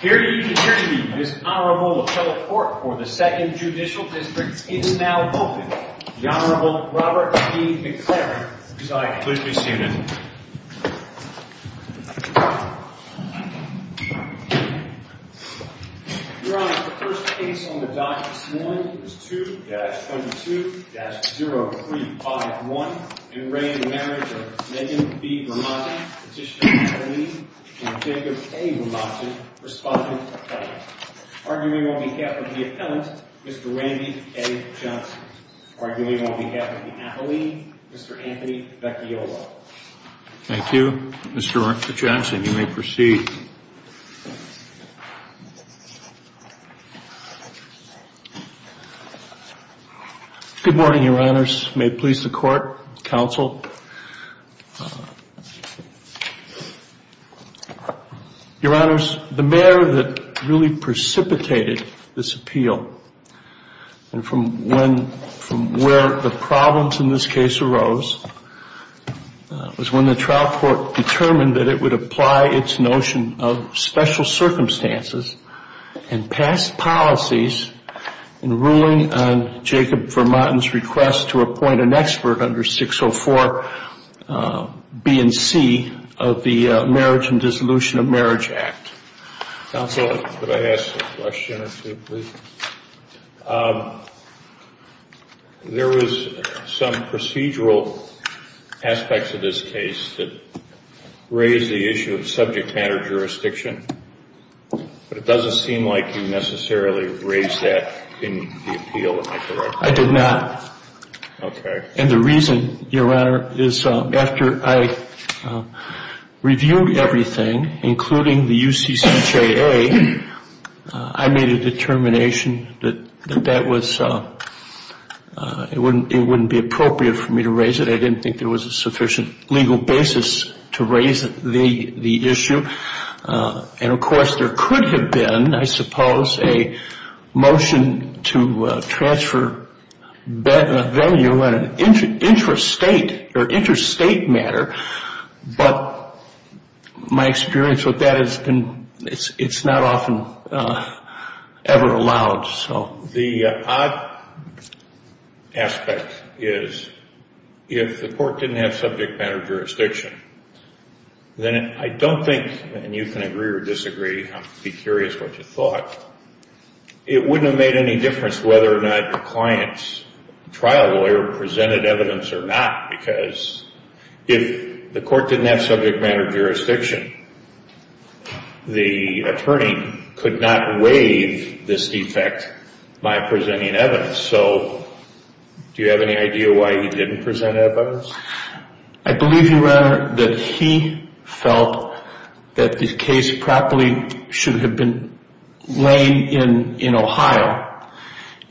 Here to give this honorable appellate court for the 2nd Judicial District is now open, the Honorable Robert B. McLaren, presiding. Pleased to be seated. Your Honor, the first case on the docket this morning is 2-22-0351, in reign of the marriage of Megan B. Vermaaten, Petitioner Appellee, and Jacob A. Vermaaten, Respondent Appellate. Arguing on behalf of the Appellant, Mr. Randy A. Johnson. Arguing on behalf of the Appellee, Mr. Anthony Becchiolo. Thank you, Mr. Johnson. You may proceed. Good morning, Your Honors. May it please the Court, Counsel. Your Honors, the matter that really precipitated this appeal, and from where the problems in this case arose, was when the trial court determined that it would apply its notion of special circumstances, and pass policies in ruling on Jacob Vermaaten's request to appoint an expert under 604 B and C of the Marriage and Dissolution of Marriage Act. Counsel, could I ask a question or two, please? There was some procedural aspects of this case that raised the issue of subject matter jurisdiction, but it doesn't seem like you necessarily raised that in the appeal, if I'm correct. I did not. And the reason, Your Honor, is after I reviewed everything, including the UCCJA, I made a determination that it wouldn't be appropriate for me to raise it. I didn't think there was a sufficient legal basis to raise the issue. And, of course, there could have been, I suppose, a motion to transfer value on an interstate matter, but my experience with that has been it's not often ever allowed. So the odd aspect is, if the court didn't have subject matter jurisdiction, then I don't think, and you can agree or disagree, I'd be curious what you thought, it wouldn't have made any difference whether or not the client's trial lawyer presented evidence or not, because if the court didn't have subject matter jurisdiction, the attorney could not waive this defect by presenting evidence. So do you have any idea why he didn't present evidence? I believe, Your Honor, that he felt that the case properly should have been laid in Ohio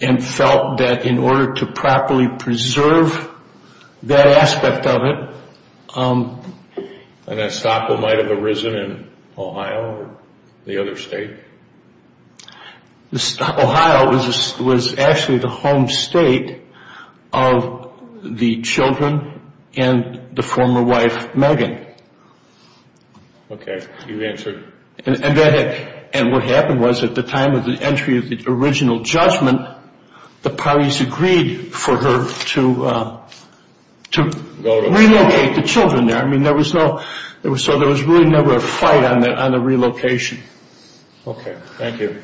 and felt that in order to properly preserve that aspect of it... And that stockpile might have arisen in Ohio or the other state? Ohio was actually the home state of the children and the former wife, Megan. Okay, you've answered. And what happened was at the time of the entry of the original judgment, the parties agreed for her to relocate the children there. I mean, there was no, so there was really never a fight on the relocation. Okay, thank you.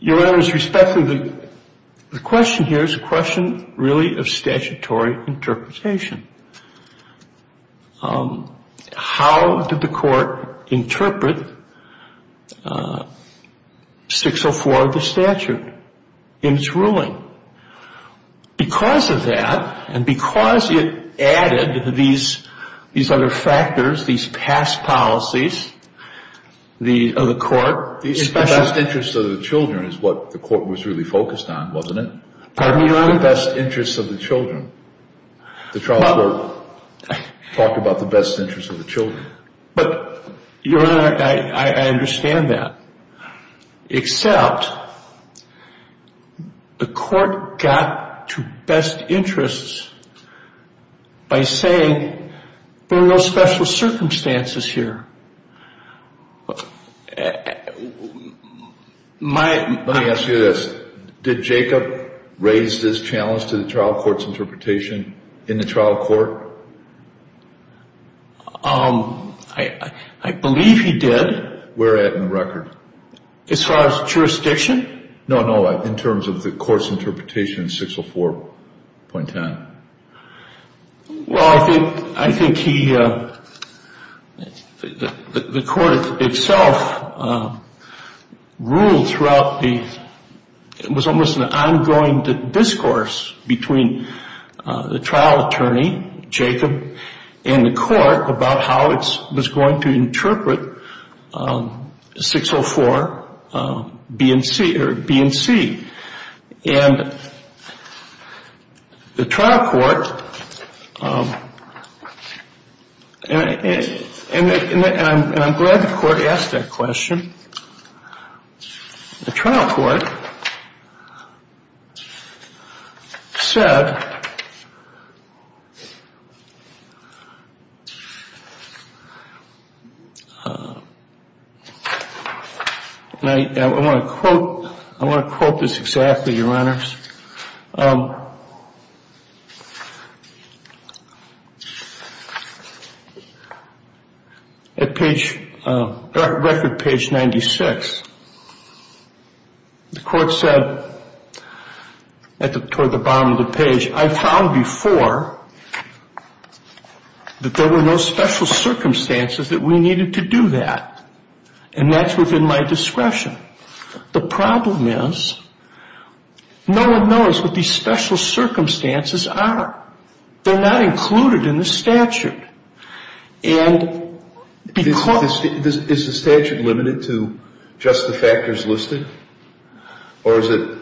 Your Honor, with respect to the question here, it's a question really of statutory interpretation. How did the court interpret 604 of the statute in its ruling? Because of that and because it added these other factors, these past policies of the court... The best interest of the children is what the court was really focused on, wasn't it? Pardon me, Your Honor? The best interest of the children. The trial court talked about the best interest of the children. But, Your Honor, I understand that. Except the court got to best interests by saying there are no special circumstances here. Let me ask you this. Did Jacob raise this challenge to the trial court's interpretation in the trial court? I believe he did. Where at in the record? As far as jurisdiction? No, no, in terms of the court's interpretation in 604.10. Well, I think he... The court itself ruled throughout the... It was almost an ongoing discourse between the trial attorney, Jacob, and the court about how it was going to interpret 604 BNC. And the trial court... And I'm glad the court asked that question. The trial court said... And I want to quote... I want to quote this exactly, Your Honors. At page... Record page 96. The court said, toward the bottom of the page, I found before that there were no special circumstances that we needed to do that. And that's within my discretion. The problem is no one knows what these special circumstances are. They're not included in the statute. And because... Is the statute limited to just the factors listed? Or is it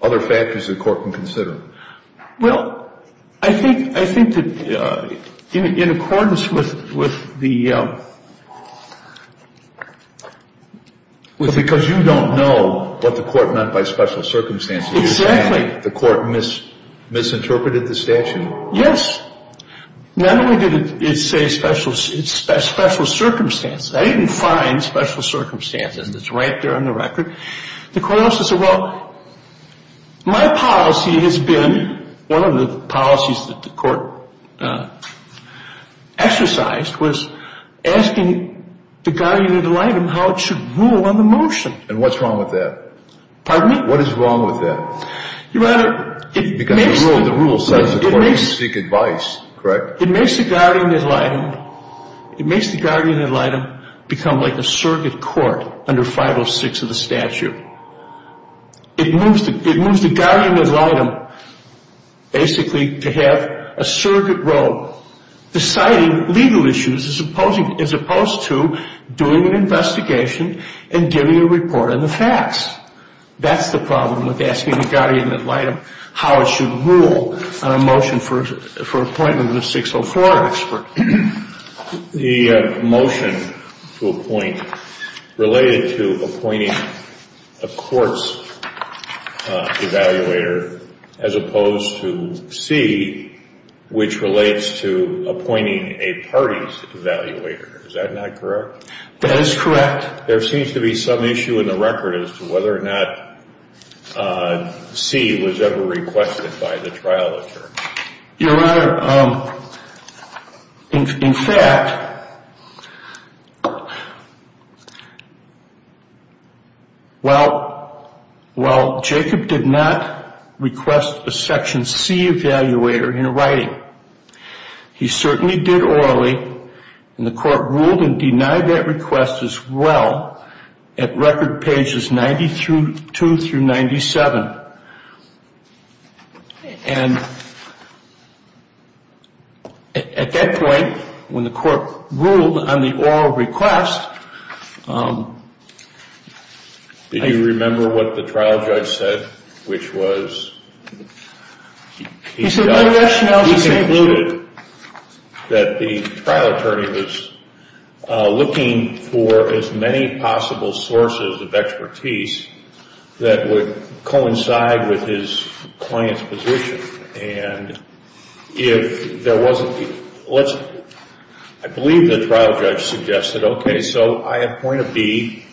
other factors the court can consider? Well, I think that in accordance with the... Because you don't know what the court meant by special circumstances. Exactly. The court misinterpreted the statute. Yes. Not only did it say special circumstances. I didn't find special circumstances. It's right there on the record. The court also said, well, my policy has been... One of the policies that the court exercised was asking the guardian ad litem how it should rule on the motion. And what's wrong with that? Pardon me? What is wrong with that? Your Honor, it makes... Because the rule says the court can seek advice, correct? It makes the guardian ad litem... It makes the guardian ad litem become like a surrogate court under 506 of the statute. It moves the guardian ad litem basically to have a surrogate role deciding legal issues as opposed to doing an investigation and giving a report on the facts. That's the problem with asking the guardian ad litem how it should rule on a motion for appointment of a 604 expert. The motion to appoint related to appointing a court's evaluator as opposed to C, which relates to appointing a party's evaluator. Is that not correct? That is correct. There seems to be some issue in the record as to whether or not C was ever requested by the trial attorney. Your Honor, in fact, while Jacob did not request a section C evaluator in writing, he certainly did orally, and the court ruled and denied that request as well at record pages 92 through 97. And at that point, when the court ruled on the oral request... Did you remember what the trial judge said, which was... He concluded that the trial attorney was looking for as many possible sources of expertise that would coincide with his client's position. And if there wasn't... I believe the trial judge suggested, okay, so I appoint a B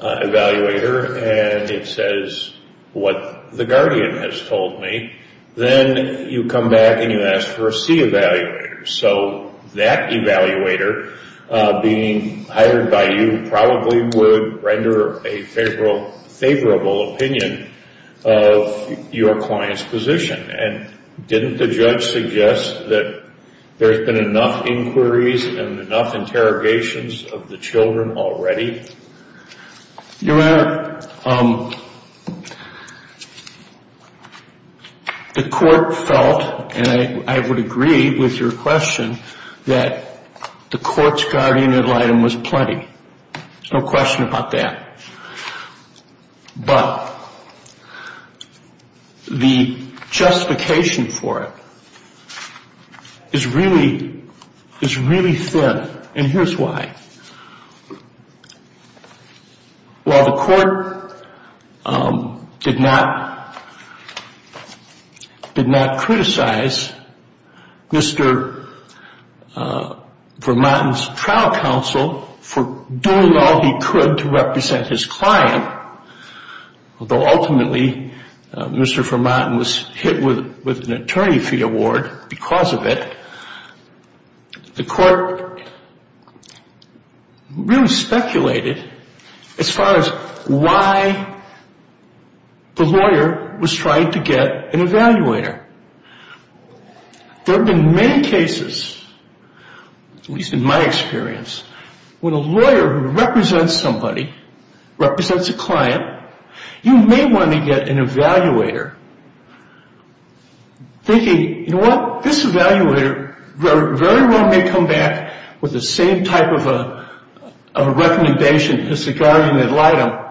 evaluator and it says what the guardian has told me. Then you come back and you ask for a C evaluator. So that evaluator being hired by you probably would render a favorable opinion of your client's position. And didn't the judge suggest that there's been enough inquiries and enough interrogations of the children already? Your Honor, the court felt, and I would agree with your question, that the court's guardian item was plenty. There's no question about that. But the justification for it is really thin, and here's why. While the court did not criticize Mr. Vermonten's trial counsel for doing all he could to represent his client, although ultimately Mr. Vermonten was hit with an attorney fee award because of it, the court really speculated as far as why the lawyer was trying to get an evaluator. There have been many cases, at least in my experience, when a lawyer who represents somebody, represents a client, you may want to get an evaluator thinking, you know what? This evaluator very well may come back with the same type of a recommendation as the guardian had lied to him.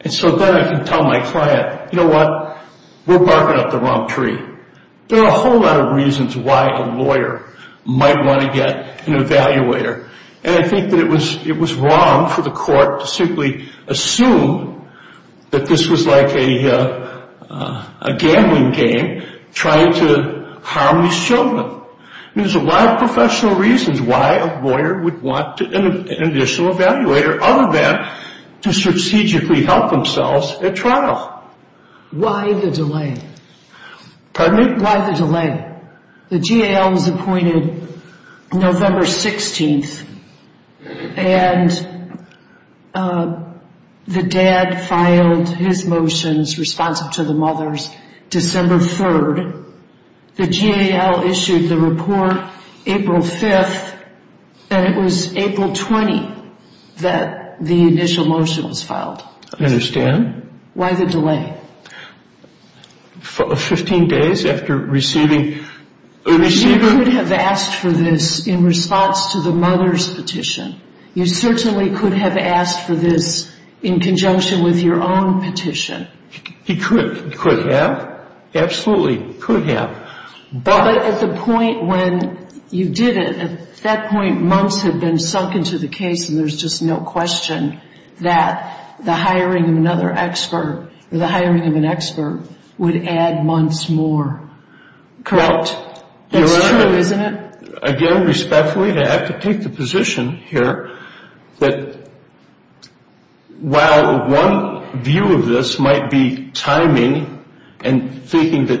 And so then I can tell my client, you know what? We're barking up the wrong tree. There are a whole lot of reasons why a lawyer might want to get an evaluator. And I think that it was wrong for the court to simply assume that this was like a gambling game trying to harm these children. There's a lot of professional reasons why a lawyer would want an additional evaluator, other than to strategically help themselves at trial. Why the delay? Pardon me? Why the delay? The GAL was appointed November 16th, and the dad filed his motions responsive to the mother's December 3rd. The GAL issued the report April 5th, and it was April 20 that the initial motion was filed. I understand. Why the delay? Fifteen days after receiving a receiver. You could have asked for this in response to the mother's petition. You certainly could have asked for this in conjunction with your own petition. He could have. Absolutely could have. But at the point when you did it, at that point months had been sunk into the case, and there's just no question that the hiring of another expert or the hiring of an expert would add months more. Correct? That's true, isn't it? Again, respectfully, I have to take the position here that while one view of this might be timing and thinking that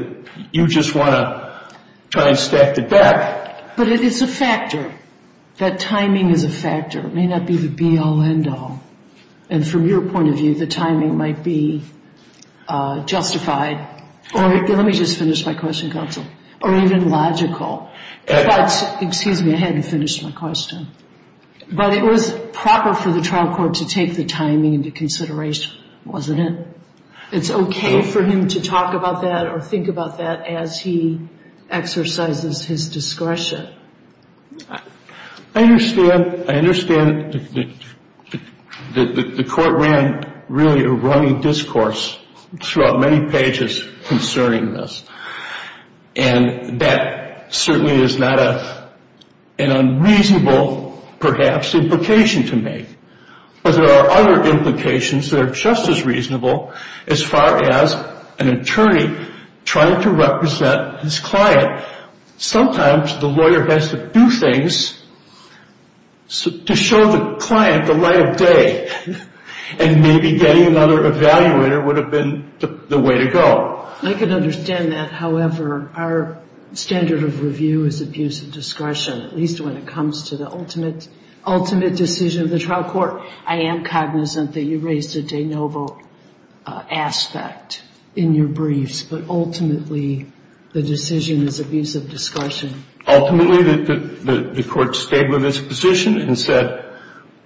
you just want to try and stack the deck. But it is a factor. That timing is a factor. It may not be the be-all, end-all. And from your point of view, the timing might be justified. Let me just finish my question, counsel, or even logical. Excuse me, I hadn't finished my question. But it was proper for the trial court to take the timing into consideration, wasn't it? It's okay for him to talk about that or think about that as he exercises his discretion. I understand that the court ran really a running discourse throughout many pages concerning this. And that certainly is not an unreasonable, perhaps, implication to make. But there are other implications that are just as reasonable as far as an attorney trying to represent his client. Sometimes the lawyer has to do things to show the client the light of day. And maybe getting another evaluator would have been the way to go. I can understand that. However, our standard of review is abuse of discretion, at least when it comes to the ultimate decision of the trial court. I am cognizant that you raised a de novo aspect in your briefs. But ultimately, the decision is abuse of discretion. Ultimately, the court stayed with its position and said,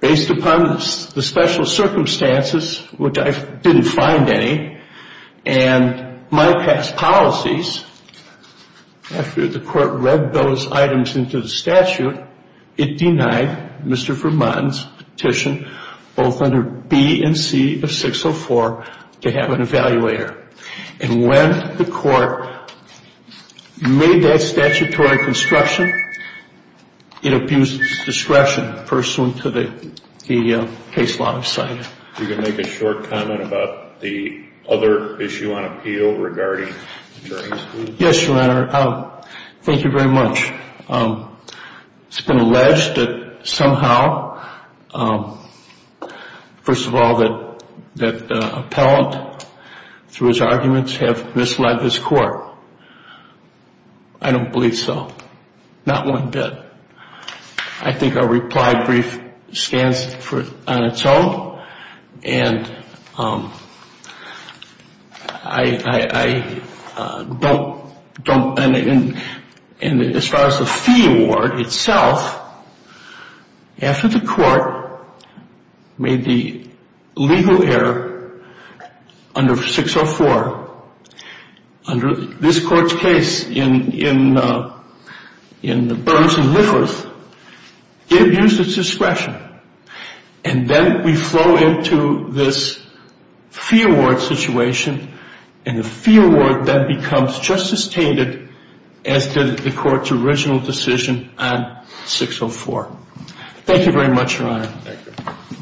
based upon the special circumstances, which I didn't find any, and my past policies, after the court read those items into the statute, it denied Mr. Vermont's petition both under B and C of 604 to have an evaluator. And when the court made that statutory construction, it abused discretion pursuant to the case law I've cited. If you could make a short comment about the other issue on appeal regarding attorney's fees. Yes, Your Honor. Thank you very much. It's been alleged that somehow, first of all, that the appellant, through his arguments, have misled this court. I don't believe so. Not one bit. I think our reply brief stands on its own. And I don't, and as far as the fee award itself, after the court made the legal error under 604, under this court's case in Burns and Lifford, it abused its discretion. And then we flow into this fee award situation, and the fee award then becomes just as tainted as did the court's original decision on 604. Thank you very much, Your Honor. Thank you.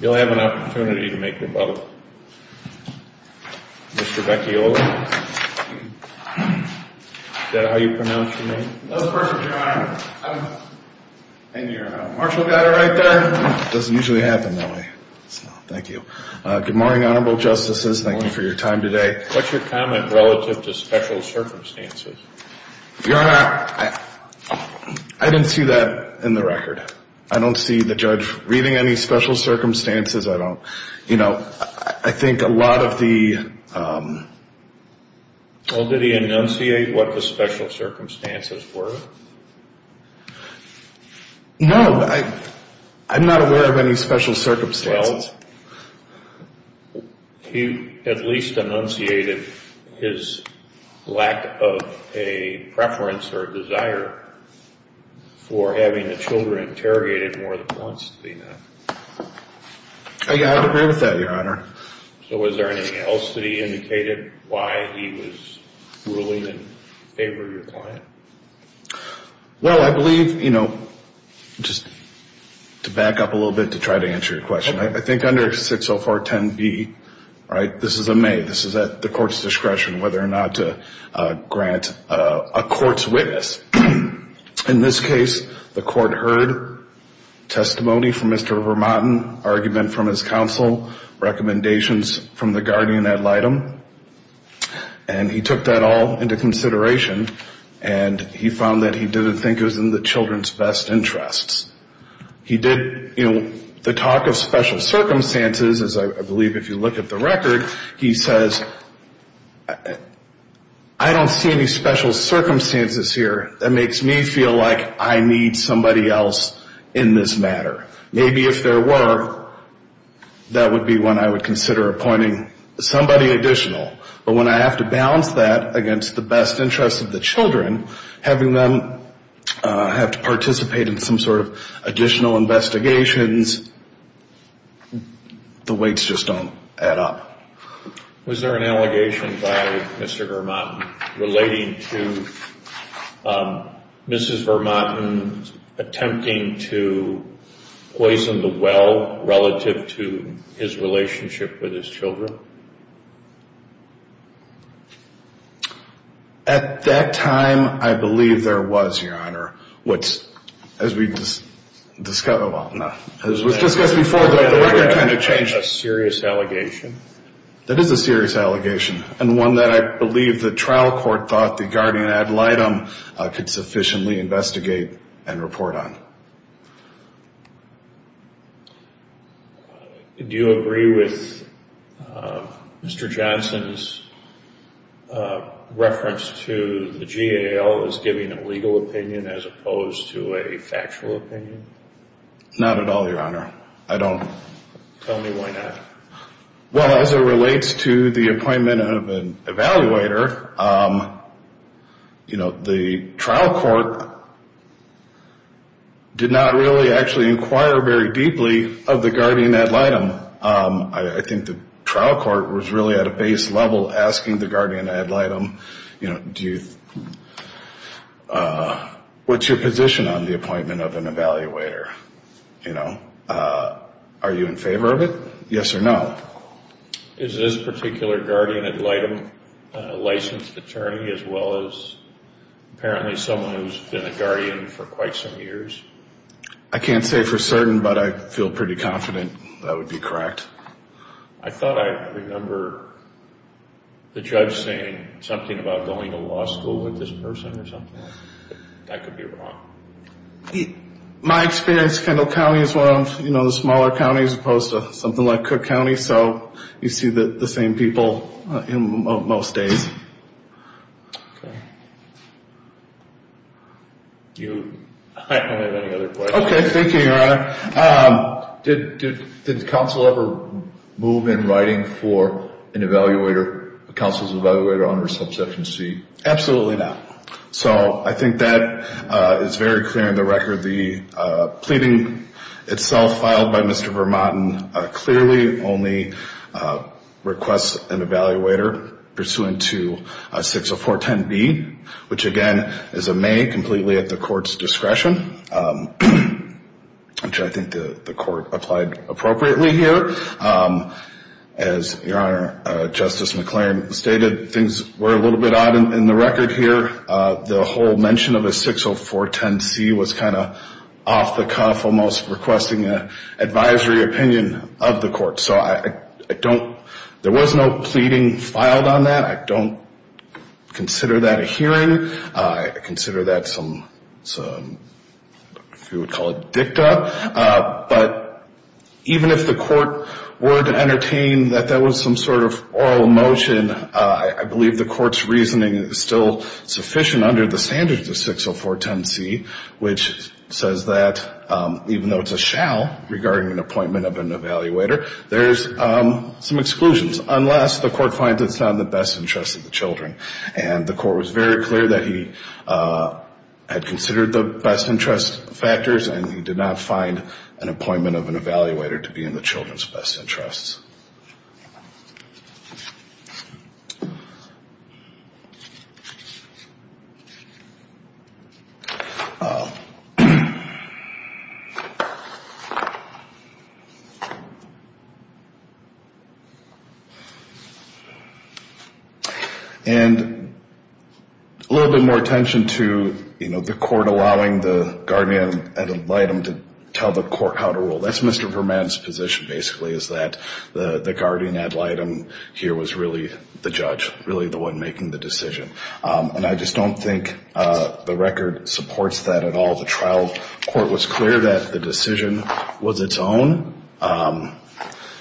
You'll have an opportunity to make your button. Mr. Beccioli. Is that how you pronounce your name? That was perfect, Your Honor. And your marshal got it right there. It doesn't usually happen that way. Thank you. Good morning, honorable justices. Thank you for your time today. What's your comment relative to special circumstances? Your Honor, I didn't see that in the record. I don't see the judge reading any special circumstances. I don't, you know, I think a lot of the Well, did he enunciate what the special circumstances were? No, I'm not aware of any special circumstances. Well, he at least enunciated his lack of a preference or desire for having the children interrogated more than once. I would agree with that, Your Honor. So was there anything else that he indicated why he was ruling in favor of your client? Well, I believe, you know, just to back up a little bit to try to answer your question, I think under 60410B, right, this is a may, this is at the court's discretion whether or not to grant a court's witness. In this case, the court heard testimony from Mr. Vermotten, argument from his counsel, recommendations from the guardian ad litem, and he took that all into consideration, and he found that he didn't think it was in the children's best interests. He did, you know, the talk of special circumstances, as I believe if you look at the record, he says, I don't see any special circumstances here that makes me feel like I need somebody else in this matter. Maybe if there were, that would be when I would consider appointing somebody additional. But when I have to balance that against the best interest of the children, having them have to participate in some sort of additional investigations, the weights just don't add up. Was there an allegation by Mr. Vermotten relating to Mrs. Vermotten attempting to poison the well relative to his relationship with his children? At that time, I believe there was, Your Honor. As we discussed before, the record kind of changed. A serious allegation? That is a serious allegation, and one that I believe the trial court thought the guardian ad litem could sufficiently investigate and report on. Do you agree with Mr. Johnson's reference to the GAL as giving a legal opinion as opposed to a factual opinion? Not at all, Your Honor. I don't. Tell me why not. Well, as it relates to the appointment of an evaluator, you know, the trial court did not really actually inquire very deeply of the guardian ad litem. I think the trial court was really at a base level asking the guardian ad litem, you know, what's your position on the appointment of an evaluator, you know? Are you in favor of it, yes or no? Is this particular guardian ad litem a licensed attorney as well as apparently someone who's been a guardian for quite some years? I can't say for certain, but I feel pretty confident that would be correct. I thought I remember the judge saying something about going to law school with this person or something. That could be wrong. My experience, Kendall County is one of the smaller counties as opposed to something like Cook County, so you see the same people most days. I don't have any other questions. Okay, thank you, Your Honor. Did the counsel ever move in writing for a counsel's evaluator on reception C? Absolutely not. So I think that is very clear in the record. The pleading itself filed by Mr. Vermotten clearly only requests an evaluator pursuant to 60410B, which, again, is a may completely at the court's discretion, which I think the court applied appropriately here. As Your Honor, Justice McClain stated, things were a little bit odd in the record here. The whole mention of a 60410C was kind of off the cuff, almost requesting an advisory opinion of the court. So I don't – there was no pleading filed on that. I don't consider that a hearing. I consider that some – if you would call it dicta. But even if the court were to entertain that that was some sort of oral motion, I believe the court's reasoning is still sufficient under the standards of 60410C, which says that even though it's a shall regarding an appointment of an evaluator, there's some exclusions unless the court finds it's not in the best interest of the children. And the court was very clear that he had considered the best interest factors and he did not find an appointment of an evaluator to be in the children's best interests. And a little bit more attention to, you know, the court allowing the guardian ad litem to tell the court how to rule. That's Mr. Verman's position basically is that the guardian ad litem here was really the judge, really the one making the decision. And I just don't think the record supports that at all. The trial court was clear that the decision was its own.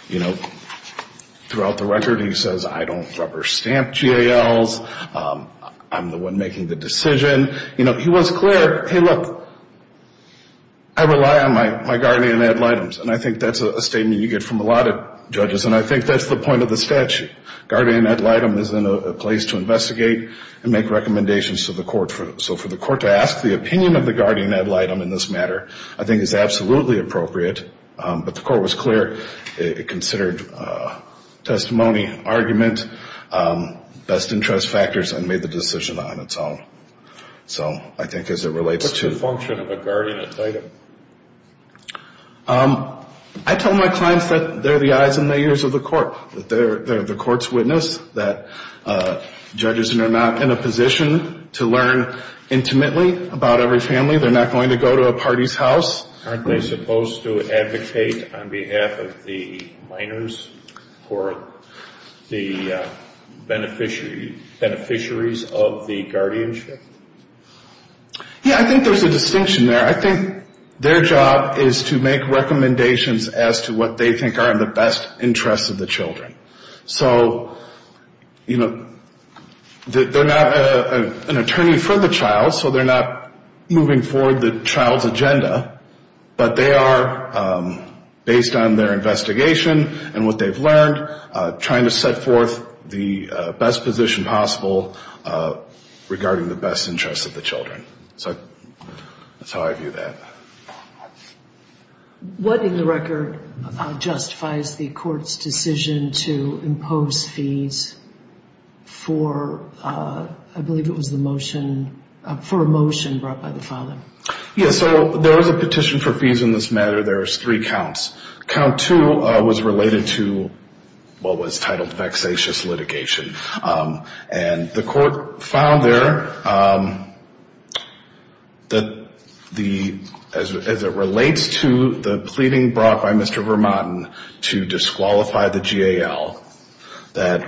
You know, throughout the record he says, I don't rubber stamp GALs. I'm the one making the decision. You know, he was clear, hey, look, I rely on my guardian ad litems. And I think that's a statement you get from a lot of judges. And I think that's the point of the statute. Guardian ad litem is in a place to investigate and make recommendations to the court. So for the court to ask the opinion of the guardian ad litem in this matter I think is absolutely appropriate. But the court was clear. It considered testimony, argument, best interest factors, and made the decision on its own. So I think as it relates to the function of a guardian ad litem. I tell my clients that they're the eyes and the ears of the court, that they're the court's witness, that judges are not in a position to learn intimately about every family. Aren't they supposed to advocate on behalf of the minors or the beneficiaries of the guardianship? Yeah, I think there's a distinction there. I think their job is to make recommendations as to what they think are in the best interest of the children. So, you know, they're not an attorney for the child, so they're not moving forward the child's agenda. But they are, based on their investigation and what they've learned, trying to set forth the best position possible regarding the best interest of the children. So that's how I view that. What in the record justifies the court's decision to impose fees for, I believe it was the motion, for a motion brought by the father? Yeah, so there was a petition for fees in this matter. There was three counts. Count two was related to what was titled vexatious litigation. And the court found there that as it relates to the pleading brought by Mr. Vermotten to disqualify the GAL, that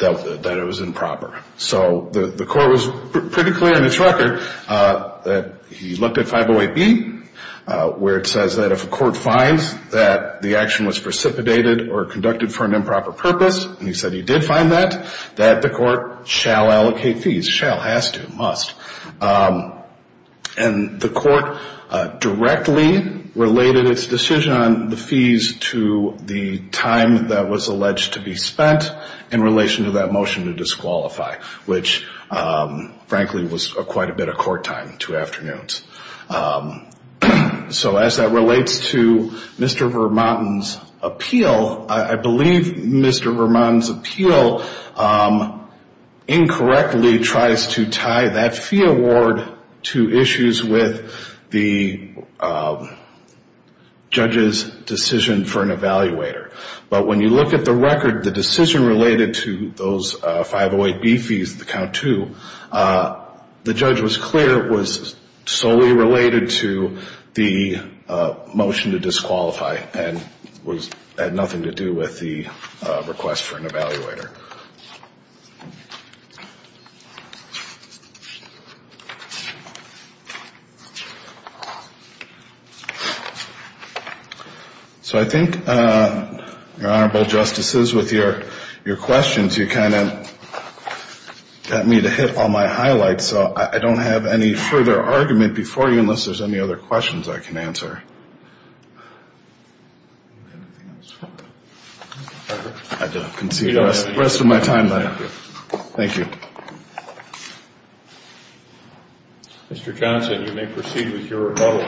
it was improper. So the court was pretty clear in its record that he looked at 508B, where it says that if a court finds that the action was precipitated or conducted for an improper purpose, and he said he did find that, that the court shall allocate fees. Shall, has to, must. And the court directly related its decision on the fees to the time that was alleged to be spent in relation to that motion to disqualify, which frankly was quite a bit of court time, two afternoons. So as that relates to Mr. Vermotten's appeal, I believe Mr. Vermotten's appeal incorrectly tries to tie that fee award to issues with the judge's decision for an evaluator. But when you look at the record, the decision related to those 508B fees, the count two, the judge was clear it was solely related to the motion to disqualify and had nothing to do with the request for an evaluator. So I think, your Honorable Justices, with your questions, you kind of got me to hit all my highlights, so I don't have any further argument before you unless there's any other questions I can answer. I'll concede the rest of my time. Thank you. Mr. Johnson, you may proceed with your rebuttal.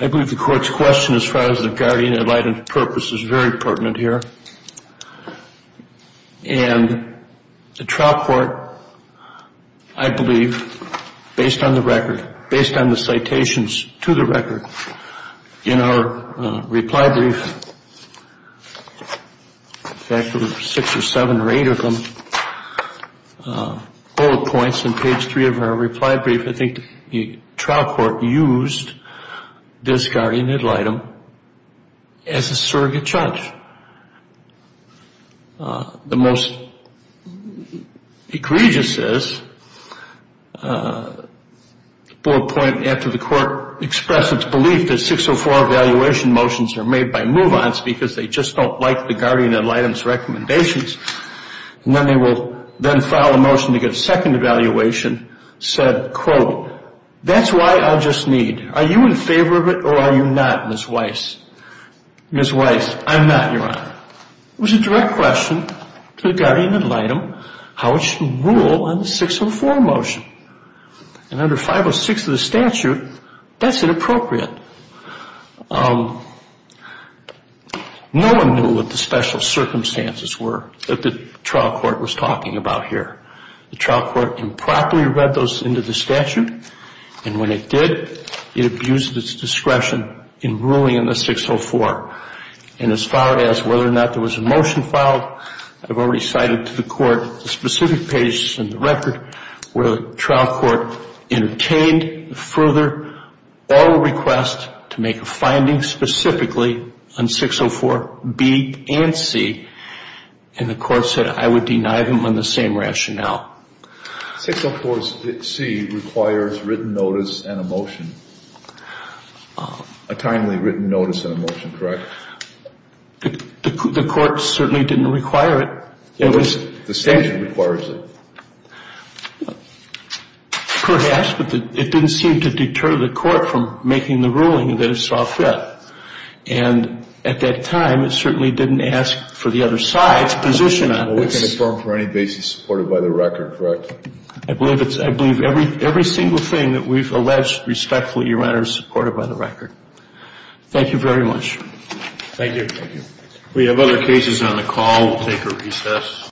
I believe the court's question as far as the guardian-invited purpose is very pertinent here. And the trial court, I believe, based on the record, based on the citations to the record, in our reply brief, in fact there were six or seven or eight of them, bullet points on page three of our reply brief, I think the trial court used this guardian ad litem as a surrogate judge. The most egregious is the bullet point after the court expressed its belief that 604 evaluation motions are made by move-ons because they just don't like the guardian ad litem's recommendations. And then they will then file a motion to get a second evaluation said, quote, that's why I'll just need, are you in favor of it or are you not, Ms. Weiss? Ms. Weiss, I'm not, your Honor. It was a direct question to the guardian ad litem how it should rule on the 604 motion. And under 506 of the statute, that's inappropriate. No one knew what the special circumstances were that the trial court was talking about here. The trial court improperly read those into the statute, and when it did, it abused its discretion in ruling on the 604. And as far as whether or not there was a motion filed, I've already cited to the court the specific pages in the record where the trial court entertained further or request to make a finding specifically on 604B and C, and the court said I would deny them on the same rationale. 604C requires written notice and a motion, a timely written notice and a motion, correct? The court certainly didn't require it. The statute requires it. Perhaps, but it didn't seem to deter the court from making the ruling that it saw fit. And at that time, it certainly didn't ask for the other side's position on it. Well, we can affirm for any basis supported by the record, correct? I believe every single thing that we've alleged respectfully, Your Honor, is supported by the record. Thank you very much. Thank you. We have other cases on the call. We'll take a recess.